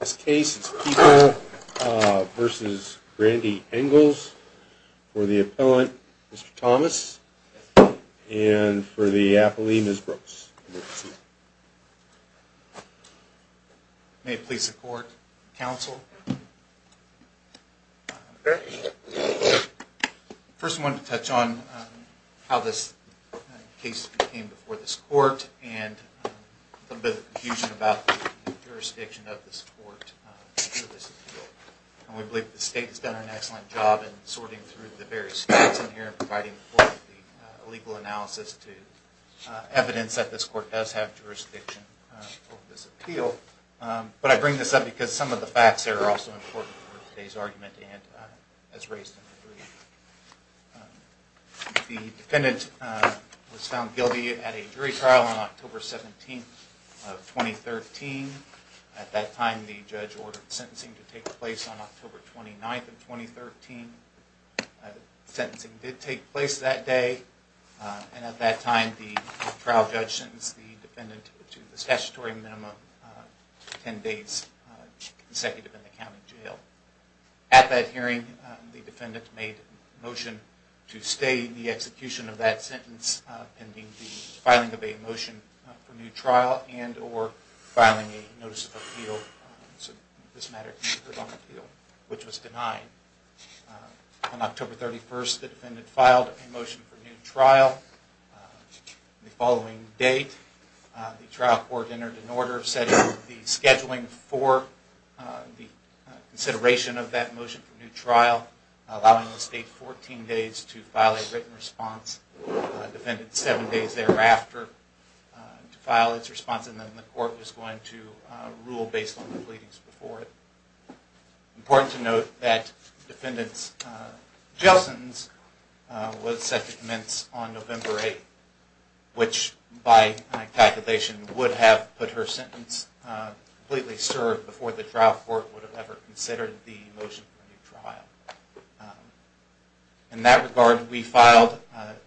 This case is Peeble v. Randy Engles for the appellant, Mr. Thomas, and for the appellee, Ms. Brooks. May it please the court, counsel. First I wanted to touch on how this case came before this court and a little bit of confusion about the jurisdiction of this court. We believe the state has done an excellent job in sorting through the various states in here and providing a legal analysis to evidence that this court does have jurisdiction over this appeal. But I bring this up because some of the facts are also important for today's argument and as raised in the brief. The defendant was found guilty at a jury trial on October 17, 2013. At that time the judge ordered sentencing to take place on October 29, 2013. Sentencing did take place that day and at that time the trial judge sentenced the defendant to the statutory minimum of 10 days consecutive in the county jail. At that hearing the defendant made a motion to stay the execution of that sentence pending the filing of a motion for new trial and or filing a notice of appeal. Which was denied. On October 31st the defendant filed a motion for new trial. The following day the trial court entered an order setting the scheduling for the consideration of that motion for new trial allowing the state 14 days to file a written response. The defendant 7 days thereafter to file its response and then the court was going to rule based on the pleadings before it. It's important to note that the defendant's jail sentence was set to commence on November 8th. Which by my calculation would have put her sentence completely served before the trial court would have ever considered the motion for new trial. In that regard we filed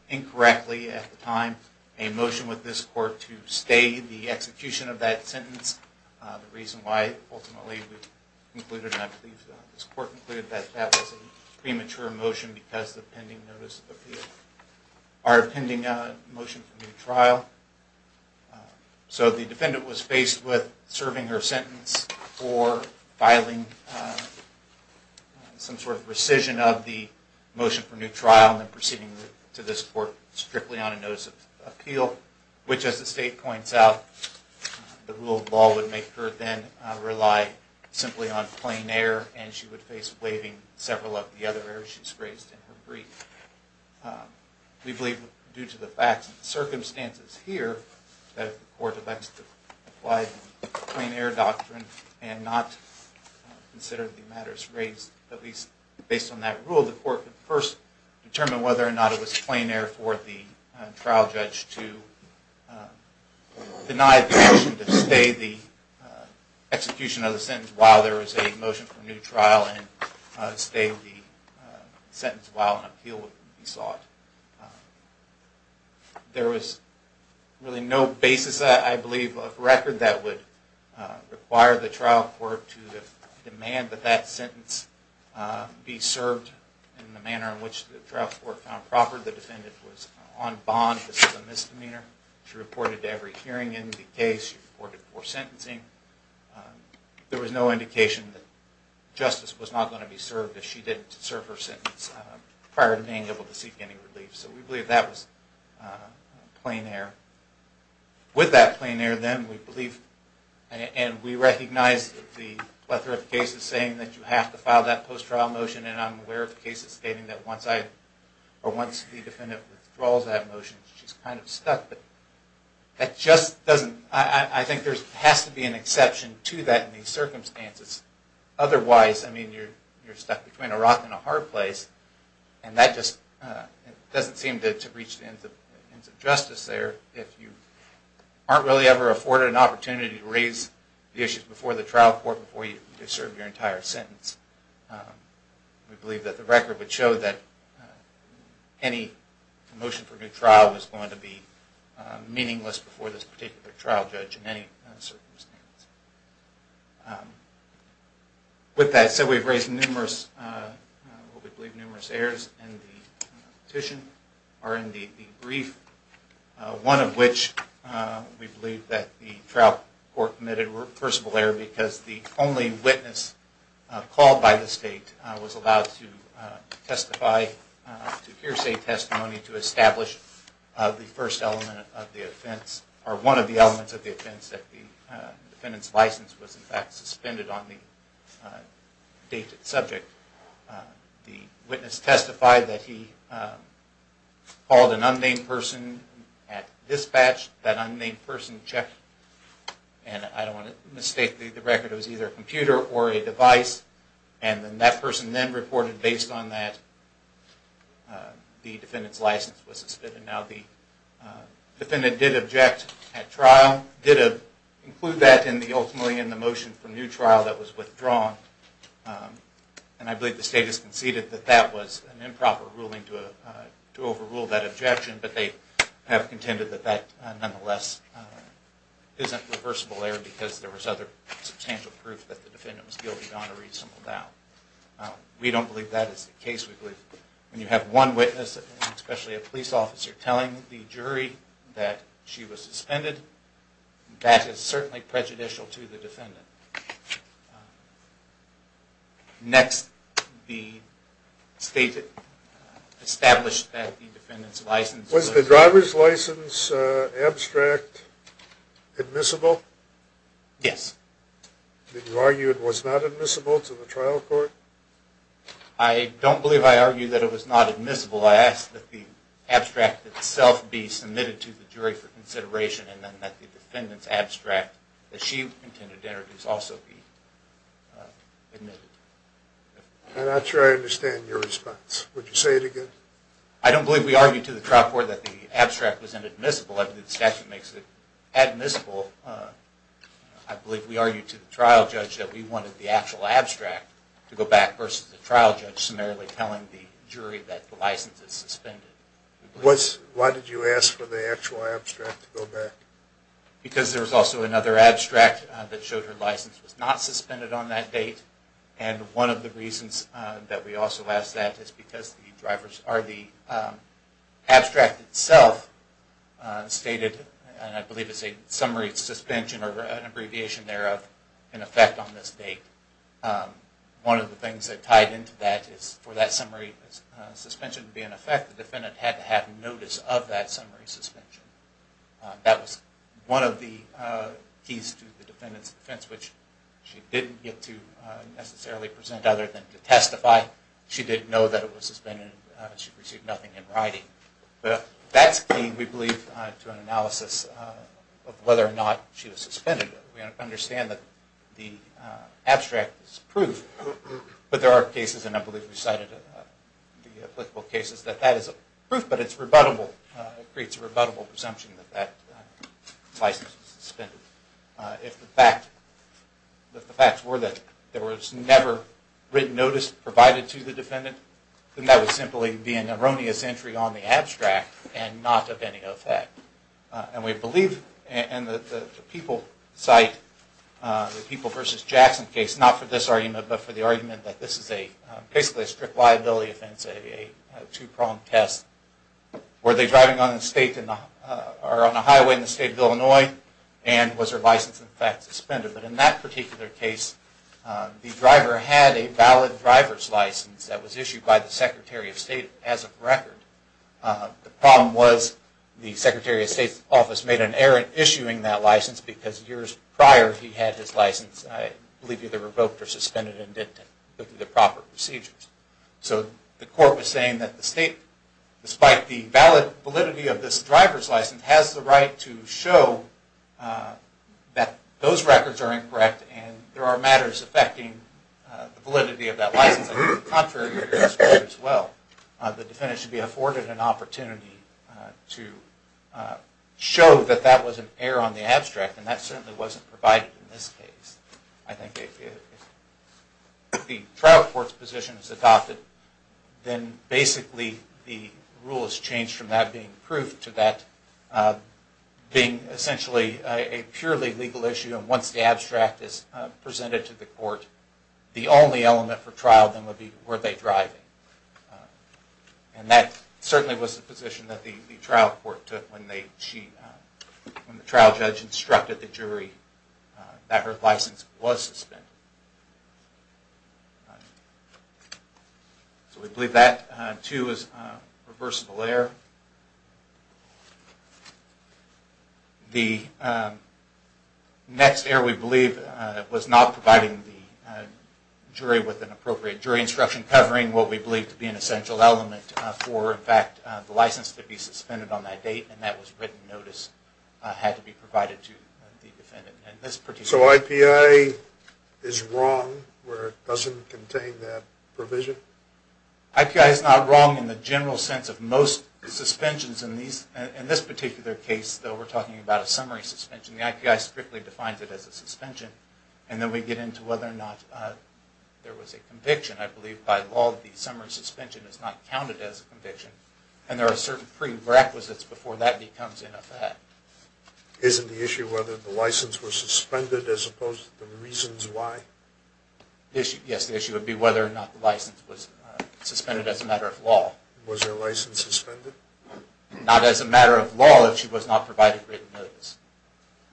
incorrectly at the time a motion with this court to stay the execution of that sentence. The reason why ultimately we concluded and I believe this court concluded that that was a premature motion because of the pending notice of appeal. Our pending motion for new trial. So the defendant was faced with serving her sentence or filing some sort of rescission of the motion for new trial and then proceeding to this court strictly on a notice of appeal. Which as the state points out the rule of law would make her then rely simply on plain air and she would face waiving several of the other errors she's raised in her brief. We believe due to the facts and the circumstances here that if the court elects to apply the plain air doctrine and not consider the matters raised at least based on that rule. The court would first determine whether or not it was plain air for the trial judge to deny the motion to stay the execution of the sentence while there is a motion for new trial. And stay the sentence while an appeal would be sought. There was really no basis I believe of record that would require the trial court to demand that that sentence be served in the manner in which the trial court found proper. The defendant was on bond. This is a misdemeanor. She reported to every hearing in the case. She reported for sentencing. There was no indication that justice was not going to be served if she didn't serve her sentence prior to being able to seek any relief. So we believe that was plain air. With that plain air then we believe and we recognize the plethora of cases saying that you have to file that post-trial motion and I'm aware of cases stating that once the defendant withdraws that motion she's kind of stuck. I think there has to be an exception to that in these circumstances. Otherwise you're stuck between a rock and a hard place. And that just doesn't seem to reach the ends of justice there if you aren't really ever afforded an opportunity to raise the issues before the trial court before you've served your entire sentence. We believe that the record would show that any motion for a new trial is going to be meaningless before this particular trial judge in any circumstance. With that said, we've raised numerous errors in the petition or in the brief, one of which we believe that the trial court committed reversible error because the only witness called by the state was allowed to testify, to hear say testimony to establish the first element of the offense, or one of the elements of the offense that the defendant committed. The defendant's license was in fact suspended on the subject. The witness testified that he called an unnamed person at dispatch. That unnamed person checked, and I don't want to mistake the record, it was either a computer or a device, and then that person then reported based on that the defendant's license was suspended. Now the defendant did object at trial, did include that ultimately in the motion for a new trial that was withdrawn, and I believe the state has conceded that that was an improper ruling to overrule that objection, but they have contended that that nonetheless isn't reversible error because there was other substantial proof that the defendant was guilty on a reasonable doubt. We don't believe that is the case. When you have one witness, especially a police officer, telling the jury that she was suspended, that is certainly prejudicial to the defendant. Next, the state established that the defendant's license... Was the driver's license abstract admissible? Yes. Did you argue it was not admissible to the trial court? I don't believe I argued that it was not admissible. I asked that the abstract itself be submitted to the jury for consideration, and then that the defendant's abstract that she intended to introduce also be admitted. I'm not sure I understand your response. Would you say it again? I don't believe we argued to the trial court that the abstract was inadmissible. I believe the statute makes it admissible. I believe we argued to the trial judge that we wanted the actual abstract to go back versus the trial judge summarily telling the jury that the license is suspended. Why did you ask for the actual abstract to go back? Because there was also another abstract that showed her license was not suspended on that date, and one of the reasons that we also asked that is because the abstract itself stated, and I believe it's a summary suspension or an abbreviation thereof, in effect on this date. One of the things that tied into that is for that summary suspension to be in effect, the defendant had to have notice of that summary suspension. That was one of the keys to the defendant's defense, which she didn't get to necessarily present other than to testify. She didn't know that it was suspended. She received nothing in writing. That's key, we believe, to an analysis of whether or not she was suspended. We understand that the abstract is proof, but there are cases, and I believe we cited the applicable cases, that that is proof, but it's rebuttable. It creates a rebuttable presumption that that license was suspended. If the facts were that there was never written notice provided to the defendant, then that would simply be an erroneous entry on the abstract and not of any effect. We believe in the People versus Jackson case, not for this argument, but for the argument that this is basically a strict liability offense, a two-pronged test. Were they driving on a highway in the state of Illinois, and was their license in fact suspended? In that particular case, the driver had a valid driver's license that was issued by the Secretary of State as of record. The problem was the Secretary of State's office made an error in issuing that license because years prior he had his license, I believe, either revoked or suspended and didn't go through the proper procedures. So the court was saying that the state, despite the valid validity of this driver's license, has the right to show that those records are incorrect and there are matters affecting the validity of that license. On the contrary, the defendant should be afforded an opportunity to show that that was an error on the abstract and that certainly wasn't provided in this case. I think if the trial court's position is adopted, then basically the rule has changed from that being proof to that being essentially a purely legal issue. Once the abstract is presented to the court, the only element for trial then would be, were they driving? And that certainly was the position that the trial court took when the trial judge instructed the jury that her license was suspended. So we believe that too is reversible error. The next error, we believe, was not providing the jury with an appropriate jury instruction covering what we believe to be an essential element for, in fact, the license to be suspended on that date and that was written notice had to be provided to the defendant. So IPA is wrong where it doesn't contain that provision? IPA is not wrong in the general sense of most suspensions. In this particular case, though, we're talking about a summary suspension. The IPA strictly defines it as a suspension. And then we get into whether or not there was a conviction. I believe by law the summary suspension is not counted as a conviction and there are certain prerequisites before that becomes an effect. Isn't the issue whether the license was suspended as opposed to the reasons why? Yes, the issue would be whether or not the license was suspended as a matter of law. Was her license suspended? Not as a matter of law if she was not provided written notice.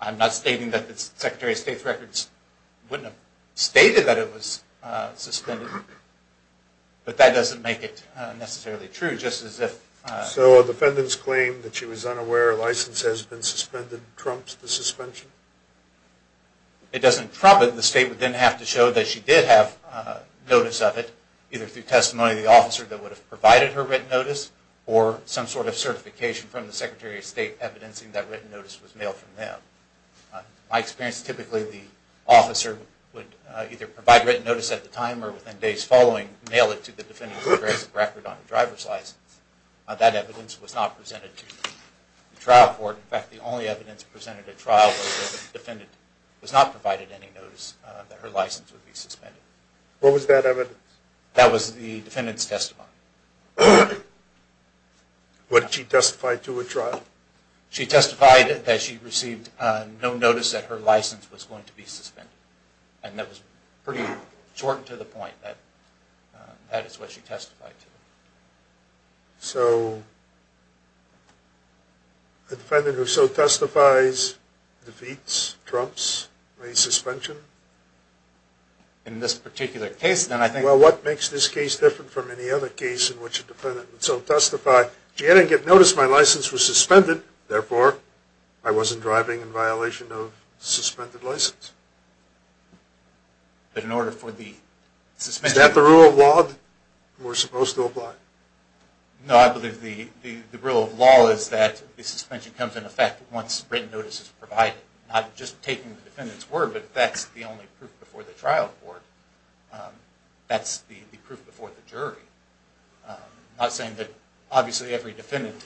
I'm not stating that the Secretary of State's records wouldn't have stated that it was suspended, but that doesn't make it necessarily true just as if... So a defendant's claim that she was unaware her license has been suspended trumps the suspension? It doesn't trump it. The State would then have to show that she did have notice of it either through testimony of the officer that would have provided her written notice or some sort of certification from the Secretary of State evidencing that written notice was mailed from them. In my experience, typically the officer would either provide written notice at the time or within days following, mail it to the defendant who has a record on the driver's license. That evidence was not presented to the trial court. In fact, the only evidence presented at trial was that the defendant was not provided any notice that her license would be suspended. What was that evidence? That was the defendant's testimony. What did she testify to at trial? She testified that she received no notice that her license was going to be suspended, and that was pretty short and to the point that that is what she testified to. So a defendant who so testifies defeats, trumps, or a suspension? In this particular case, then, I think... Well, what makes this case different from any other case in which a defendant would so testify, she didn't get notice my license was suspended, therefore I wasn't driving in violation of suspended license? But in order for the suspended... Is that the rule of law we're supposed to apply? No, I believe the rule of law is that the suspension comes into effect once written notice is provided. Not just taking the defendant's word, but that's the only proof before the trial court. That's the proof before the jury. I'm not saying that obviously every defendant,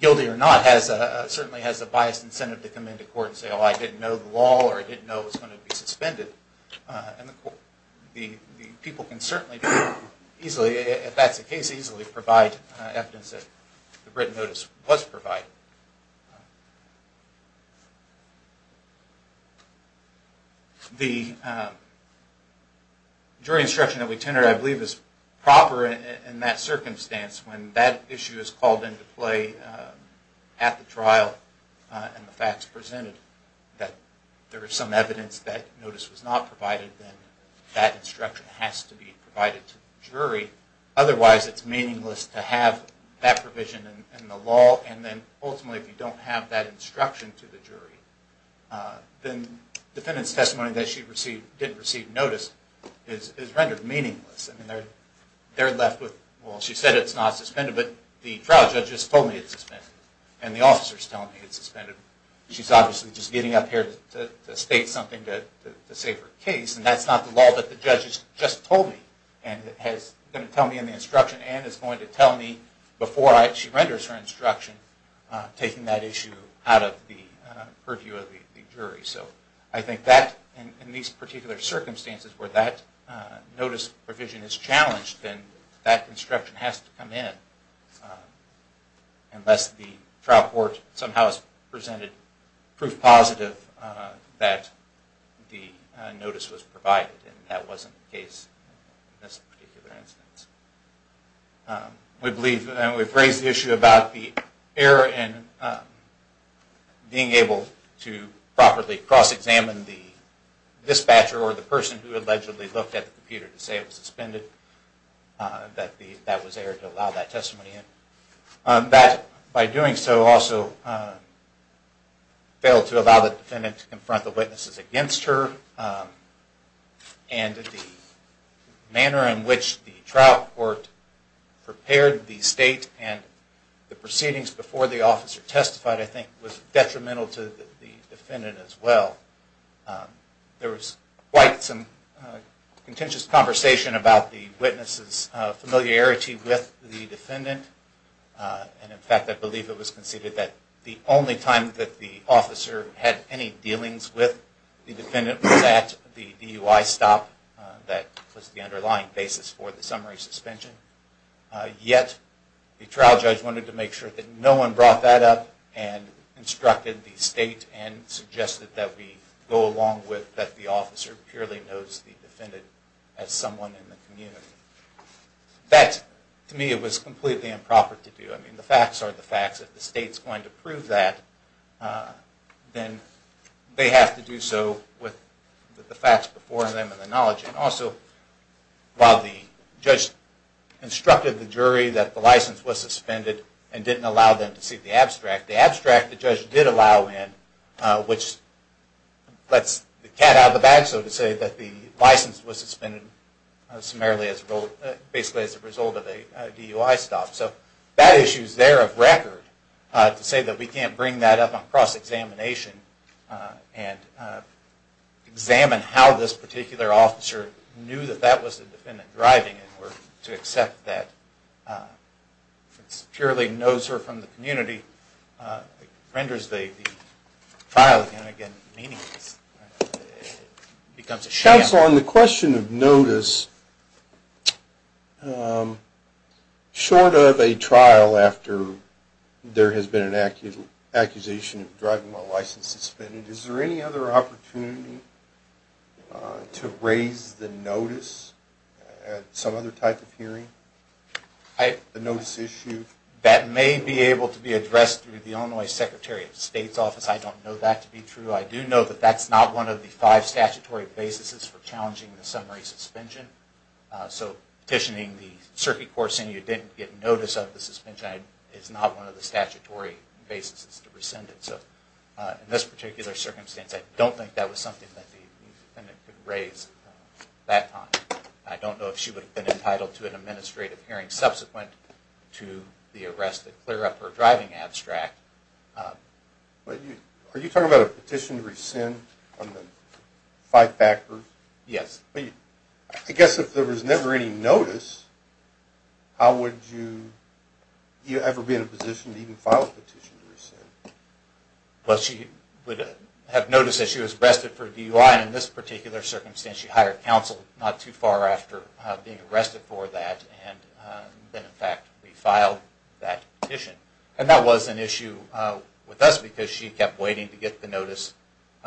guilty or not, said, well, I didn't know the law or I didn't know it was going to be suspended in the court. People can certainly easily, if that's the case, easily provide evidence that the written notice was provided. The jury instruction that we tender, I believe, is proper in that circumstance when that issue is called into play at the trial and the facts presented, that there is some evidence that notice was not provided, then that instruction has to be provided to the jury. Otherwise, it's meaningless to have that provision in the law. And then, ultimately, if you don't have that instruction to the jury, then defendant's testimony that she didn't receive notice is rendered meaningless. They're left with, well, she said it's not suspended, but the trial judge just told me it's suspended. And the officer's telling me it's suspended. She's obviously just getting up here to state something to save her case. And that's not the law that the judge has just told me and is going to tell me in the instruction and is going to tell me before she renders her instruction, taking that issue out of the purview of the jury. So I think that, in these particular circumstances where that notice provision is challenged, then that instruction has to come in unless the trial court somehow has presented proof positive that the notice was provided. And that wasn't the case in this particular instance. We believe, and we've raised the issue about the error in being able to properly cross-examine the dispatcher or the person who allegedly looked at the computer to say it was suspended, that that was errored to allow that testimony in. That, by doing so, also failed to allow the defendant to confront the witnesses against her. And the manner in which the trial court prepared the state and the proceedings before the officer testified, I think, was detrimental to the defendant as well. There was quite some contentious conversation about the witness's familiarity with the defendant. And, in fact, I believe it was conceded that the only time that the officer had any dealings with the defendant was at the DUI stop that was the underlying basis for the summary suspension. Yet, the trial judge wanted to make sure that no one brought that up and instructed the state and suggested that we go along with that the officer purely knows the defendant as someone in the community. That, to me, was completely improper to do. I mean, the facts are the facts. If the state's going to prove that, then they have to do so with the facts before them and the knowledge. And also, while the judge instructed the jury that the license was suspended and didn't allow them to see the abstract, the abstract the judge did allow in, which lets the cat out of the bag, so to say, that the license was suspended basically as a result of a DUI stop. So that issue's there of record to say that we can't bring that up on cross-examination and examine how this particular officer knew that that was the defendant driving it or to accept that it's purely knows her from the community. It renders the trial, again and again, meaningless. It becomes a sham. Counsel, on the question of notice, short of a trial after there has been an accusation of driving while license suspended, is there any other opportunity to raise the notice at some other type of hearing? The notice issue? That may be able to be addressed through the Illinois Secretary of State's office. I don't know that to be true. I do know that that's not one of the five statutory basis for challenging the summary suspension. So petitioning the circuit court saying you didn't get notice of the suspension is not one of the statutory basis to rescind it. So in this particular circumstance, I don't think that was something that the defendant could raise at that time. I don't know if she would have been entitled to an administrative hearing subsequent to the arrest that clear up her driving abstract. Are you talking about a petition to rescind on the five factors? Yes. I guess if there was never any notice, how would you ever be in a position to even file a petition to rescind? Well, she would have notice that she was arrested for DUI, and in this particular circumstance, she hired counsel not too far after being arrested for that, and then, in fact, we filed that petition. And that was an issue with us because she kept waiting to get the notice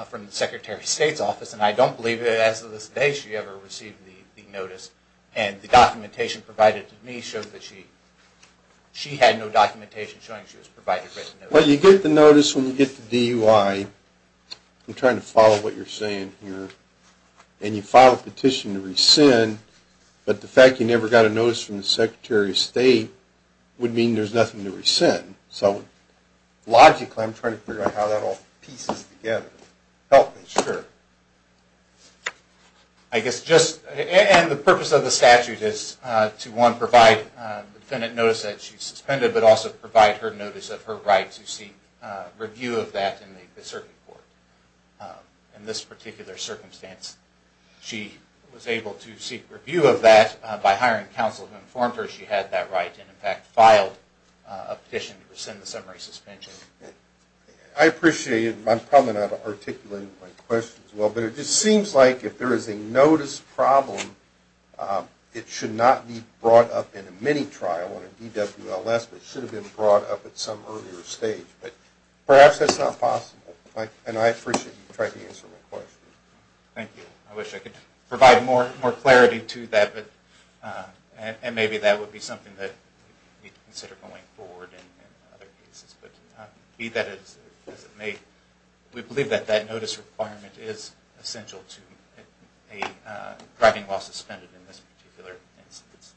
from the Secretary of State's office, and I don't believe that as of this day she ever received the notice. And the documentation provided to me shows that she had no documentation showing she was provided with the notice. Well, you get the notice when you get the DUI. I'm trying to follow what you're saying here. And you file a petition to rescind, but the fact you never got a notice from the Secretary of State would mean there's nothing to rescind. So logically, I'm trying to figure out how that all pieces together. Help me. Sure. And the purpose of the statute is to, one, provide the defendant notice that she's suspended, but also provide her notice of her right to seek review of that in the circuit court. In this particular circumstance, she was able to seek review of that by hiring counsel who informed her she had that right, and in fact filed a petition to rescind the summary suspension. I appreciate it. I'm probably not articulating my question as well, but it just seems like if there is a notice problem, it should not be brought up in a mini-trial on a DWLS, but it should have been brought up at some earlier stage. But perhaps that's not possible, and I appreciate you trying to answer my question. Thank you. I wish I could provide more clarity to that, and maybe that would be something that we'd consider going forward in other cases. But be that as it may, we believe that that notice requirement is essential to a driving law suspended in this particular instance.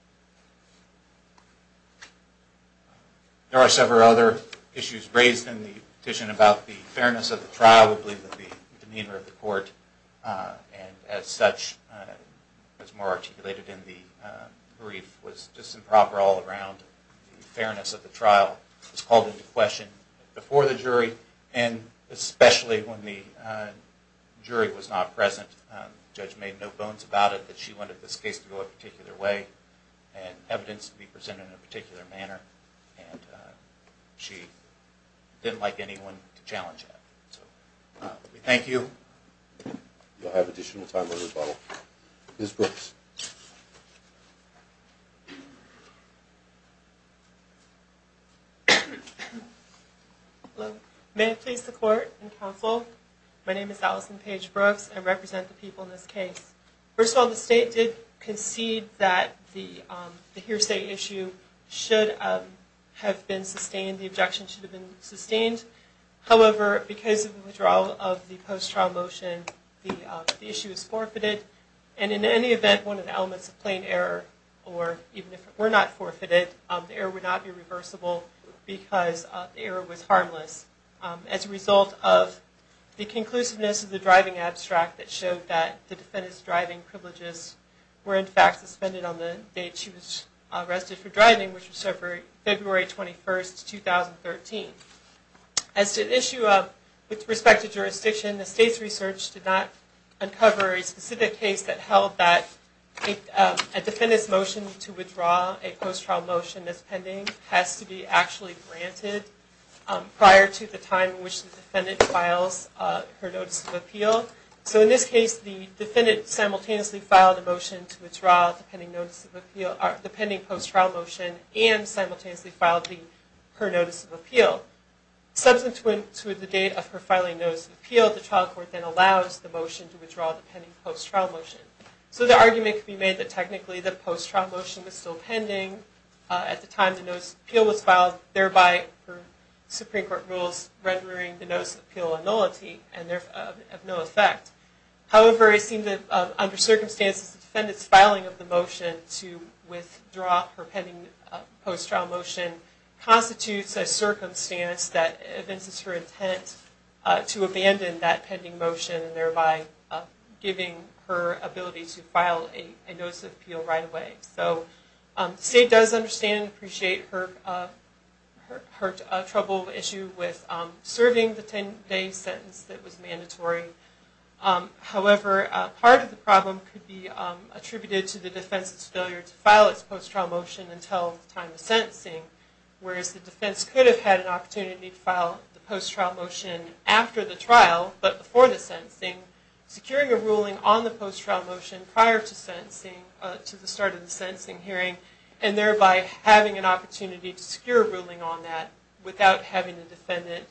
There are several other issues raised in the petition about the fairness of the trial. I would believe that the demeanor of the court, and as such, as more articulated in the brief, was just improper all around. The fairness of the trial was called into question before the jury, and especially when the jury was not present. The judge made no bones about it, that she wanted this case to go a particular way and evidence to be presented in a particular manner, and she didn't like anyone to challenge that. Thank you. We'll have additional time for rebuttal. Ms. Brooks. May I please support and counsel? My name is Allison Paige Brooks, and I represent the people in this case. First of all, the state did concede that the hearsay issue should have been sustained, the objection should have been sustained. However, because of the withdrawal of the post-trial motion, the issue was forfeited. And in any event, one of the elements of plain error, or even if it were not forfeited, the error would not be reversible because the error was harmless. As a result of the conclusiveness of the driving abstract that showed that the defendant's driving privileges were in fact suspended on the date she was arrested for driving, which was February 21, 2013. As to the issue with respect to jurisdiction, the state's research did not uncover a specific case that held that a defendant's motion to withdraw a post-trial motion that's pending has to be actually granted prior to the time in which the defendant files her notice of appeal. So in this case, the defendant simultaneously filed a motion to withdraw the pending post-trial motion and simultaneously filed her notice of appeal. Substantive to the date of her filing notice of appeal, the trial court then allows the motion to withdraw the pending post-trial motion. So the argument can be made that technically the post-trial motion was still pending at the time the notice of appeal was filed, thereby, per Supreme Court rules, rendering the notice of appeal a nullity and of no effect. However, it seems that under circumstances, the defendant's filing of the motion to withdraw her pending post-trial motion constitutes a circumstance that evinces her intent to abandon that pending motion, thereby giving her ability to file a notice of appeal right away. So the State does understand and appreciate her troubled issue with serving the 10-day sentence that was mandatory. However, part of the problem could be attributed to the defense's failure to file its post-trial motion until the time of sentencing, whereas the defense could have had an opportunity to file the post-trial motion after the trial but before the sentencing, securing a ruling on the post-trial motion prior to the start of the sentencing hearing, and thereby having an opportunity to secure a ruling on that without having the defendant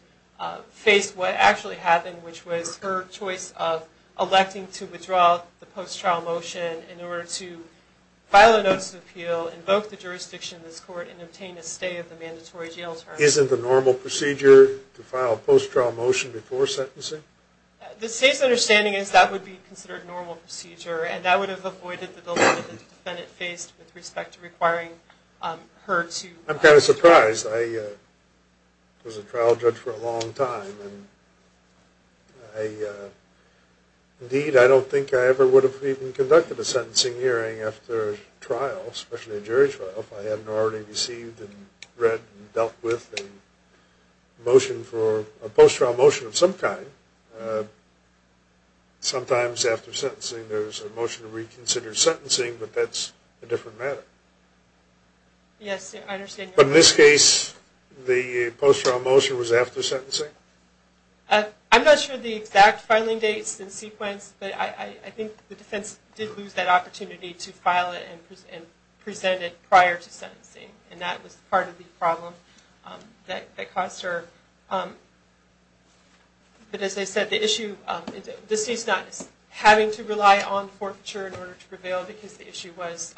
face what actually happened, which was her choice of electing to withdraw the post-trial motion in order to file a notice of appeal, invoke the jurisdiction of this court, and obtain a stay of the mandatory jail term. Isn't the normal procedure to file a post-trial motion before sentencing? The State's understanding is that would be considered normal procedure, and that would have avoided the dilemma that the defendant faced with respect to requiring her to… I'm kind of surprised. I was a trial judge for a long time, and indeed, I don't think I ever would have even conducted a sentencing hearing after a trial, especially a jury trial, if I hadn't already received and read and dealt with a motion for a post-trial motion of some kind. Sometimes after sentencing, there's a motion to reconsider sentencing, but that's a different matter. Yes, I understand. But in this case, the post-trial motion was after sentencing? I'm not sure of the exact filing dates and sequence, but I think the defense did lose that opportunity to file it and present it prior to sentencing, and that was part of the problem that caused her… But as I said, the issue… The State's not having to rely on forfeiture in order to prevail because the issue was,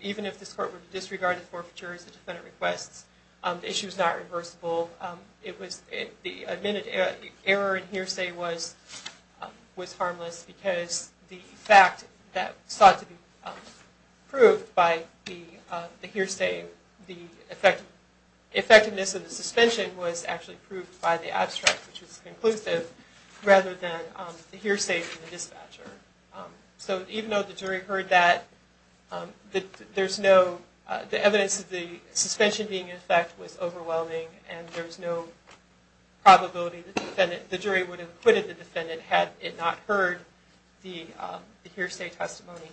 even if this court would disregard the forfeiture as the defendant requests, the issue is not reversible. The admitted error in hearsay was harmless because the fact that sought to be proved by the hearsay, the effectiveness of the suspension was actually proved by the abstract, which was conclusive, rather than the hearsay from the dispatcher. So even though the jury heard that, there's no… The evidence of the suspension being in effect was overwhelming, and there was no probability that the jury would have acquitted the defendant had it not heard the hearsay testimony.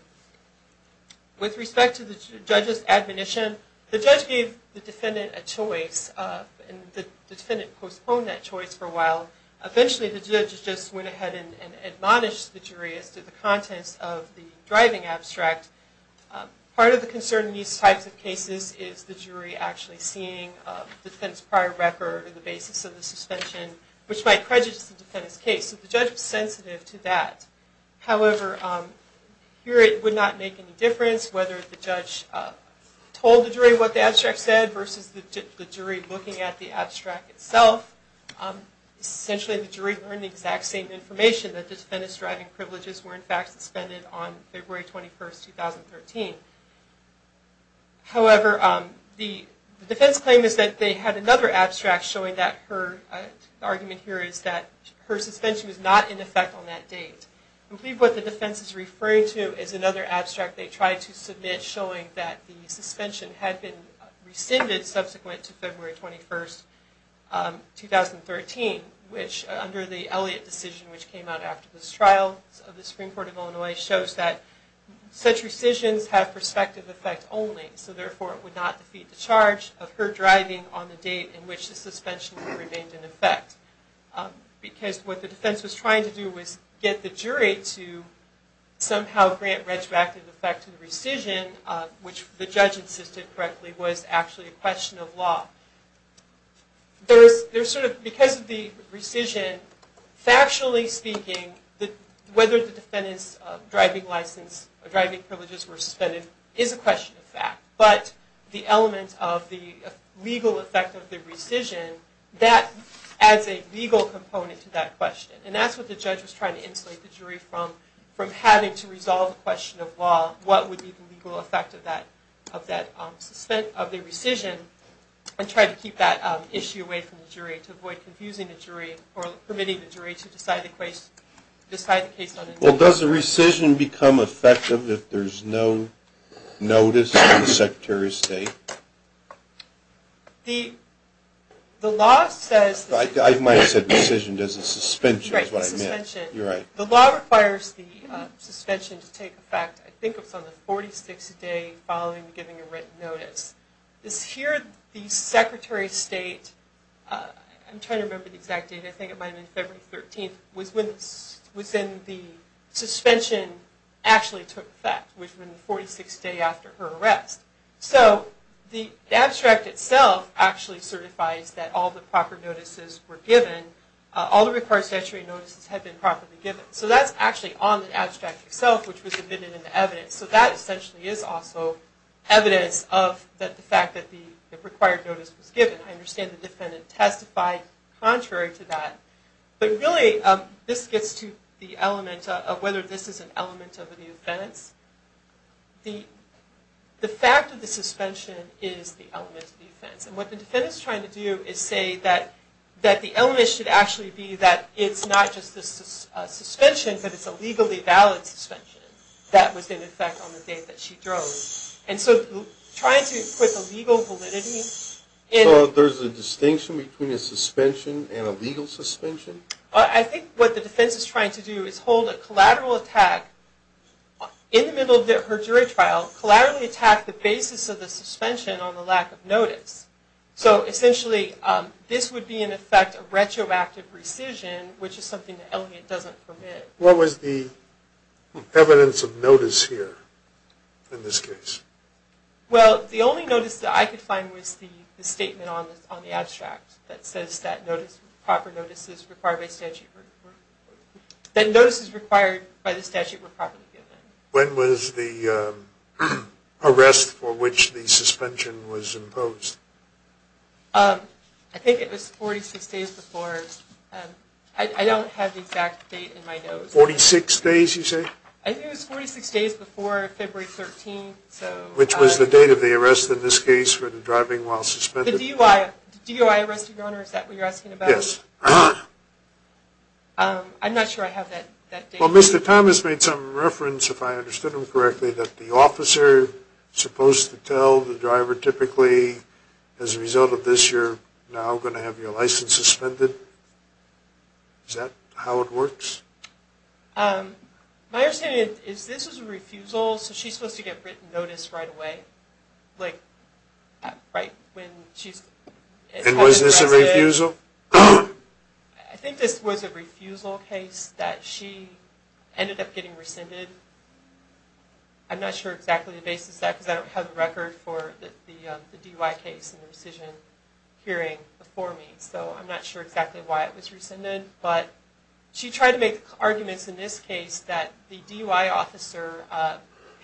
With respect to the judge's admonition, the judge gave the defendant a choice, and the defendant postponed that choice for a while. Eventually, the judge just went ahead and admonished the jury as to the contents of the driving abstract. Part of the concern in these types of cases is the jury actually seeing the defendant's prior record or the basis of the suspension, which might prejudice the defendant's case. So the judge was sensitive to that. However, here it would not make any difference whether the judge told the jury what the abstract said versus the jury looking at the abstract itself. Essentially, the jury learned the exact same information, that the defendant's driving privileges were in fact suspended on February 21, 2013. However, the defense claim is that they had another abstract showing that her… The argument here is that her suspension was not in effect on that date. I believe what the defense is referring to is another abstract they tried to submit showing that the suspension had been rescinded subsequent to February 21, 2013, which under the Elliott decision which came out after this trial of the Supreme Court of Illinois shows that such rescissions have prospective effect only. So therefore, it would not defeat the charge of her driving on the date in which the suspension remained in effect. Because what the defense was trying to do was get the jury to somehow grant retroactive effect to the rescission, which the judge insisted correctly was actually a question of law. Because of the rescission, factually speaking, whether the defendant's driving license or driving privileges were suspended is a question of fact. But the element of the legal effect of the rescission, that adds a legal component to that question. And that's what the judge was trying to insulate the jury from, from having to resolve the question of law, what would be the legal effect of the rescission and try to keep that issue away from the jury to avoid confusing the jury or permitting the jury to decide the case on their own. Well, does the rescission become effective if there's no notice from the Secretary of State? The law says... I might have said rescission, there's a suspension is what I meant. Right, the suspension. You're right. The law requires the suspension to take effect, I think it's on the 46th day following giving a written notice. This here, the Secretary of State, I'm trying to remember the exact date, I think it might have been February 13th, was when the suspension actually took effect, which was the 46th day after her arrest. So the abstract itself actually certifies that all the proper notices were given, all the required statutory notices had been properly given. So that's actually on the abstract itself, which was admitted in the evidence. So that essentially is also evidence of the fact that the required notice was given. I understand the defendant testified contrary to that. But really, this gets to the element of whether this is an element of the offense. The fact of the suspension is the element of the offense. And what the defendant is trying to do is say that the element should actually be that it's not just a suspension, but it's a legally valid suspension that was in effect on the date that she drove. And so trying to put the legal validity... So there's a distinction between a suspension and a legal suspension? I think what the defense is trying to do is hold a collateral attack, in the middle of her jury trial, collaterally attack the basis of the suspension on the lack of notice. So essentially, this would be in effect a retroactive rescission, which is something that Elliot doesn't permit. What was the evidence of notice here in this case? Well, the only notice that I could find was the statement on the abstract that says that proper notices required by statute were properly given. When was the arrest for which the suspension was imposed? I think it was 46 days before. I don't have the exact date in my notes. Forty-six days, you say? I think it was 46 days before February 13th. Which was the date of the arrest in this case for the driving while suspended? The DUI arrest of your honor, is that what you're asking about? Yes. I'm not sure I have that date. Well, Mr. Thomas made some reference, if I understood him correctly, that the officer is supposed to tell the driver typically, as a result of this, you're now going to have your license suspended. Is that how it works? My understanding is this is a refusal, so she's supposed to get written notice right away? And was this a refusal? I think this was a refusal case that she ended up getting rescinded. I'm not sure exactly the basis of that, because I don't have a record for the DUI case and rescission hearing before me, so I'm not sure exactly why it was rescinded. But she tried to make arguments in this case that the DUI officer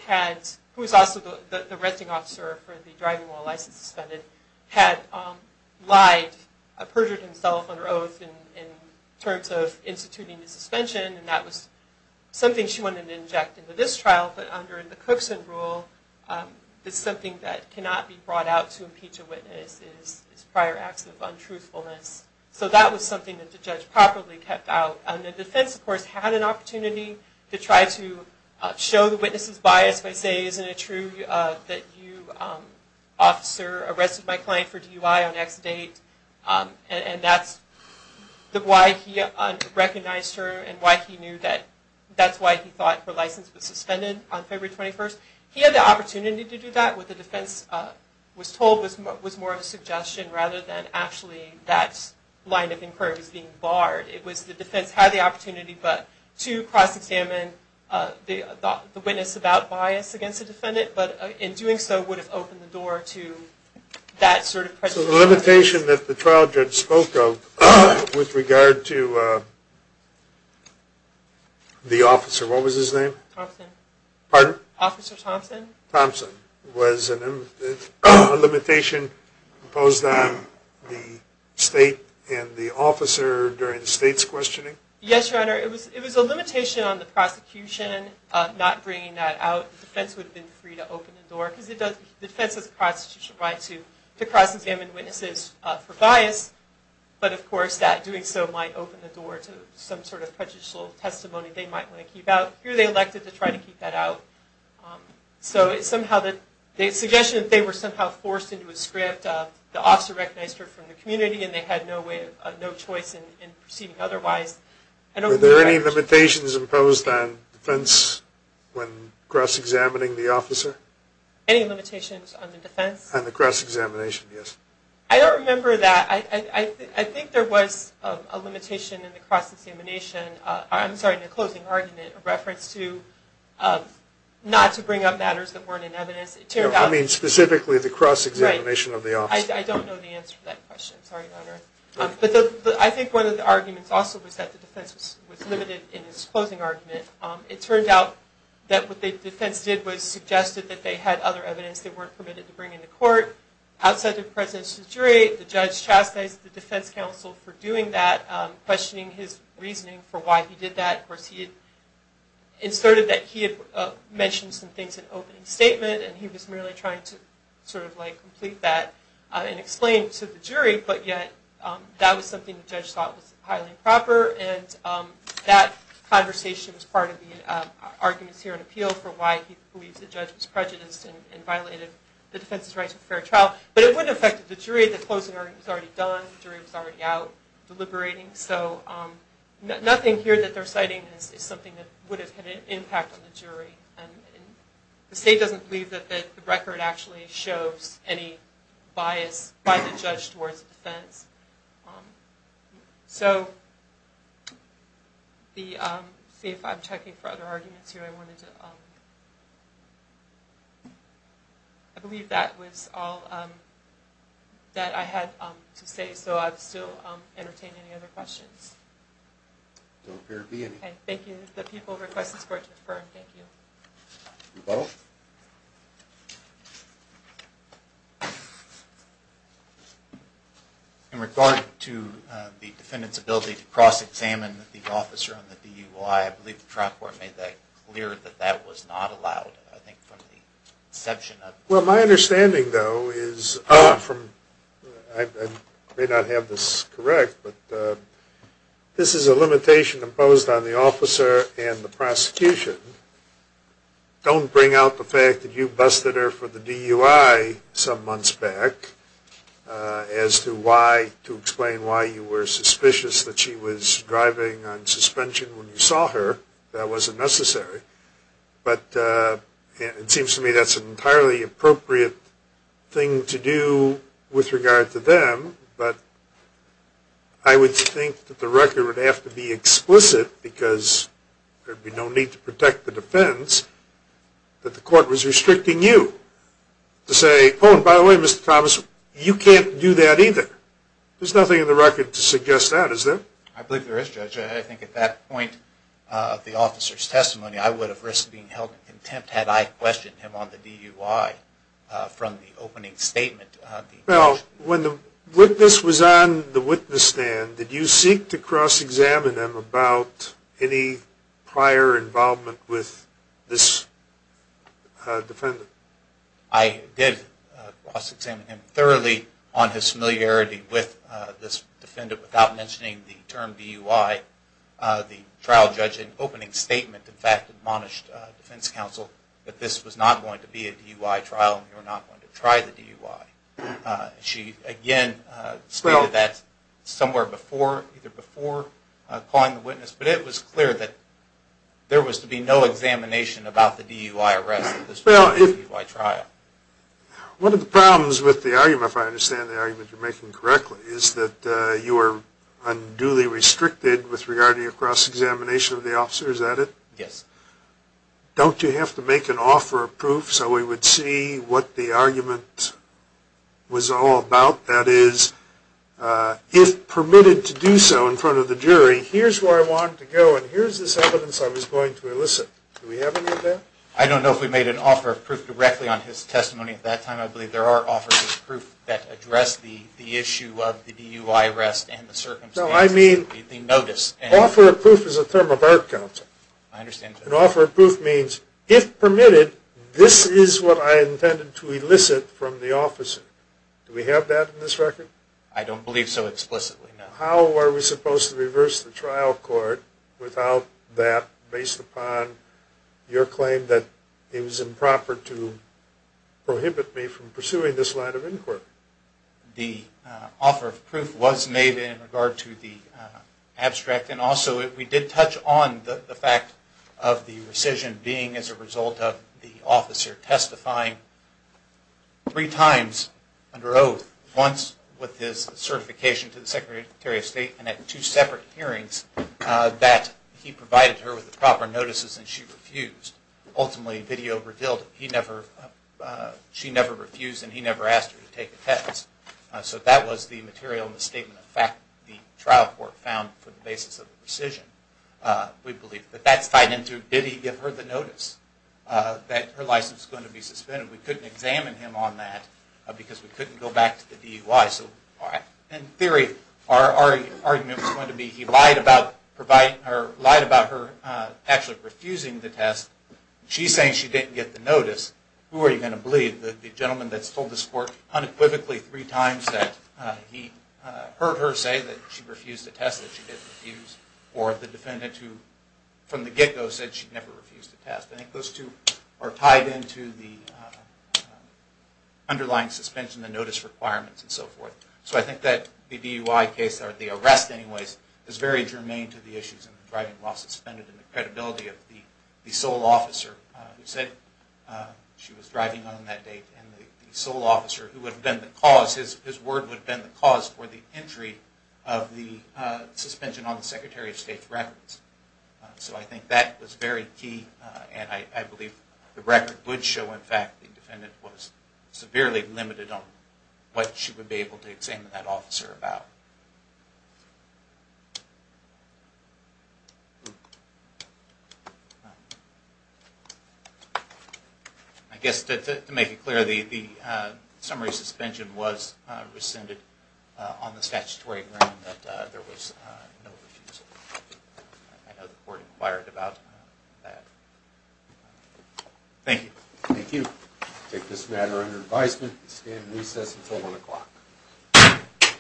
had, who is also the arresting officer for the driving while license suspended, had lied, perjured himself under oath in terms of instituting the suspension, and that was something she wanted to inject into this trial, but under the Cookson rule, it's something that cannot be brought out to impeach a witness, it's prior acts of untruthfulness. So that was something that the judge properly kept out. And the defense, of course, had an opportunity to try to show the witness's bias by saying, isn't it true that you, officer, arrested my client for DUI on X date, and that's why he recognized her, and why he knew that that's why he thought her license was suspended on February 21st. He had the opportunity to do that, what the defense was told was more of a suggestion rather than actually that line of inquiry was being barred. It was the defense had the opportunity to cross-examine the witness about bias against the defendant, but in doing so would have opened the door to that sort of prejudice. So the limitation that the trial judge spoke of with regard to the officer, what was his name? Thompson. Pardon? Officer Thompson. Thompson. Was a limitation imposed on the state and the officer during the state's questioning? Yes, Your Honor. It was a limitation on the prosecution not bringing that out. The defense would have been free to open the door, because the defense has a constitutional right to cross-examine witnesses for bias, but of course that doing so might open the door to some sort of prejudicial testimony they might want to keep out. Here they elected to try to keep that out. So it's somehow the suggestion that they were somehow forced into a script. The officer recognized her from the community, and they had no choice in proceeding otherwise. Were there any limitations imposed on defense when cross-examining the officer? Any limitations on the defense? On the cross-examination, yes. I don't remember that. I think there was a limitation in the cross-examination. I'm sorry, in the closing argument, a reference to not to bring up matters that weren't in evidence. I mean specifically the cross-examination of the officer. I don't know the answer to that question. Sorry, Your Honor. I think one of the arguments also was that the defense was limited in its closing argument. It turned out that what the defense did was suggested that they had other evidence they weren't permitted to bring into court. Outside the presence of the jury, the judge chastised the defense counsel for doing that, questioning his reasoning for why he did that. Of course he had inserted that he had mentioned some things in an opening statement, and he was merely trying to sort of like complete that and explain to the jury, but yet that was something the judge thought was highly improper, and that conversation was part of the arguments here in appeal for why he believes the judge was prejudiced and violated the defense's right to a fair trial. But it would have affected the jury. The closing argument was already done. The jury was already out deliberating. So nothing here that they're citing is something that would have had an impact on the jury. The state doesn't believe that the record actually shows any bias by the judge towards the defense. So, let's see if I'm checking for other arguments here. I believe that was all that I had to say, so I'd still entertain any other questions. There don't appear to be any. Okay, thank you. The people request this court to defer. Thank you. Rebuttal. In regard to the defendant's ability to cross-examine the officer on the DUI, I believe the trial court made that clear that that was not allowed. I think from the exception of the- Well, my understanding, though, is from-I may not have this correct, but this is a limitation imposed on the officer and the prosecution. Don't bring out the fact that you busted her for the DUI some months back as to why, to explain why you were suspicious that she was driving on suspension when you saw her. That wasn't necessary. But it seems to me that's an entirely appropriate thing to do with regard to them. But I would think that the record would have to be explicit because there would be no need to protect the defense that the court was restricting you to say, oh, and by the way, Mr. Thomas, you can't do that either. There's nothing in the record to suggest that, is there? I believe there is, Judge. I think at that point of the officer's testimony, I would have risked being held in contempt had I questioned him on the DUI from the opening statement. Well, when the witness was on the witness stand, did you seek to cross-examine him about any prior involvement with this defendant? I did cross-examine him thoroughly on his familiarity with this defendant without mentioning the term DUI. The trial judge in the opening statement, in fact, admonished defense counsel that this was not going to be a DUI trial and we were not going to try the DUI. She, again, stated that somewhere either before calling the witness, but it was clear that there was to be no examination about the DUI arrest. One of the problems with the argument, if I understand the argument you're making correctly, is that you are unduly restricted with regard to your cross-examination of the officer. Is that it? Yes. Don't you have to make an offer of proof so we would see what the argument was all about? That is, if permitted to do so in front of the jury, here's where I wanted to go and here's this evidence I was going to elicit. Do we have any of that? I don't know if we made an offer of proof directly on his testimony at that time. I believe there are offers of proof that address the issue of the DUI arrest and the circumstances. No, I mean... The notice. Offer of proof is a term of our counsel. I understand. An offer of proof means, if permitted, this is what I intended to elicit from the officer. Do we have that in this record? I don't believe so explicitly, no. How are we supposed to reverse the trial court without that based upon your claim that it was improper to prohibit me from pursuing this line of inquiry? The offer of proof was made in regard to the abstract and also we did touch on the fact of the rescission being as a result of the officer testifying three times under oath, once with his certification to the Secretary of State and at two separate hearings that he provided her with the proper notices and she refused. Ultimately, video revealed she never refused and he never asked her to take the test. So that was the material and the statement of fact the trial court found for the basis of the rescission. We believe that that's tied into, did he give her the notice that her license was going to be suspended? We couldn't examine him on that because we couldn't go back to the DUI. In theory, our argument was going to be he lied about her actually refusing the test. She's saying she didn't get the notice. Who are you going to believe, the gentleman that's told this court unequivocally three times that he heard her say that she refused the test that she didn't refuse or the defendant who from the get-go said she never refused the test. I think those two are tied into the underlying suspension, the notice requirements and so forth. So I think that the DUI case, or the arrest anyways, is very germane to the issues of driving while suspended and the credibility of the sole officer who said she was driving on that date and the sole officer who would have been the cause, his word would have been the cause for the entry of the suspension on the Secretary of State's records. So I think that was very key and I believe the record would show, in fact, the defendant was severely limited on what she would be able to examine that officer about. I guess to make it clear, the summary suspension was rescinded on the statutory ground that there was no refusal. I know the court inquired about that. Thank you. Thank you. We take this matter under advisement and stand in recess until 1 o'clock.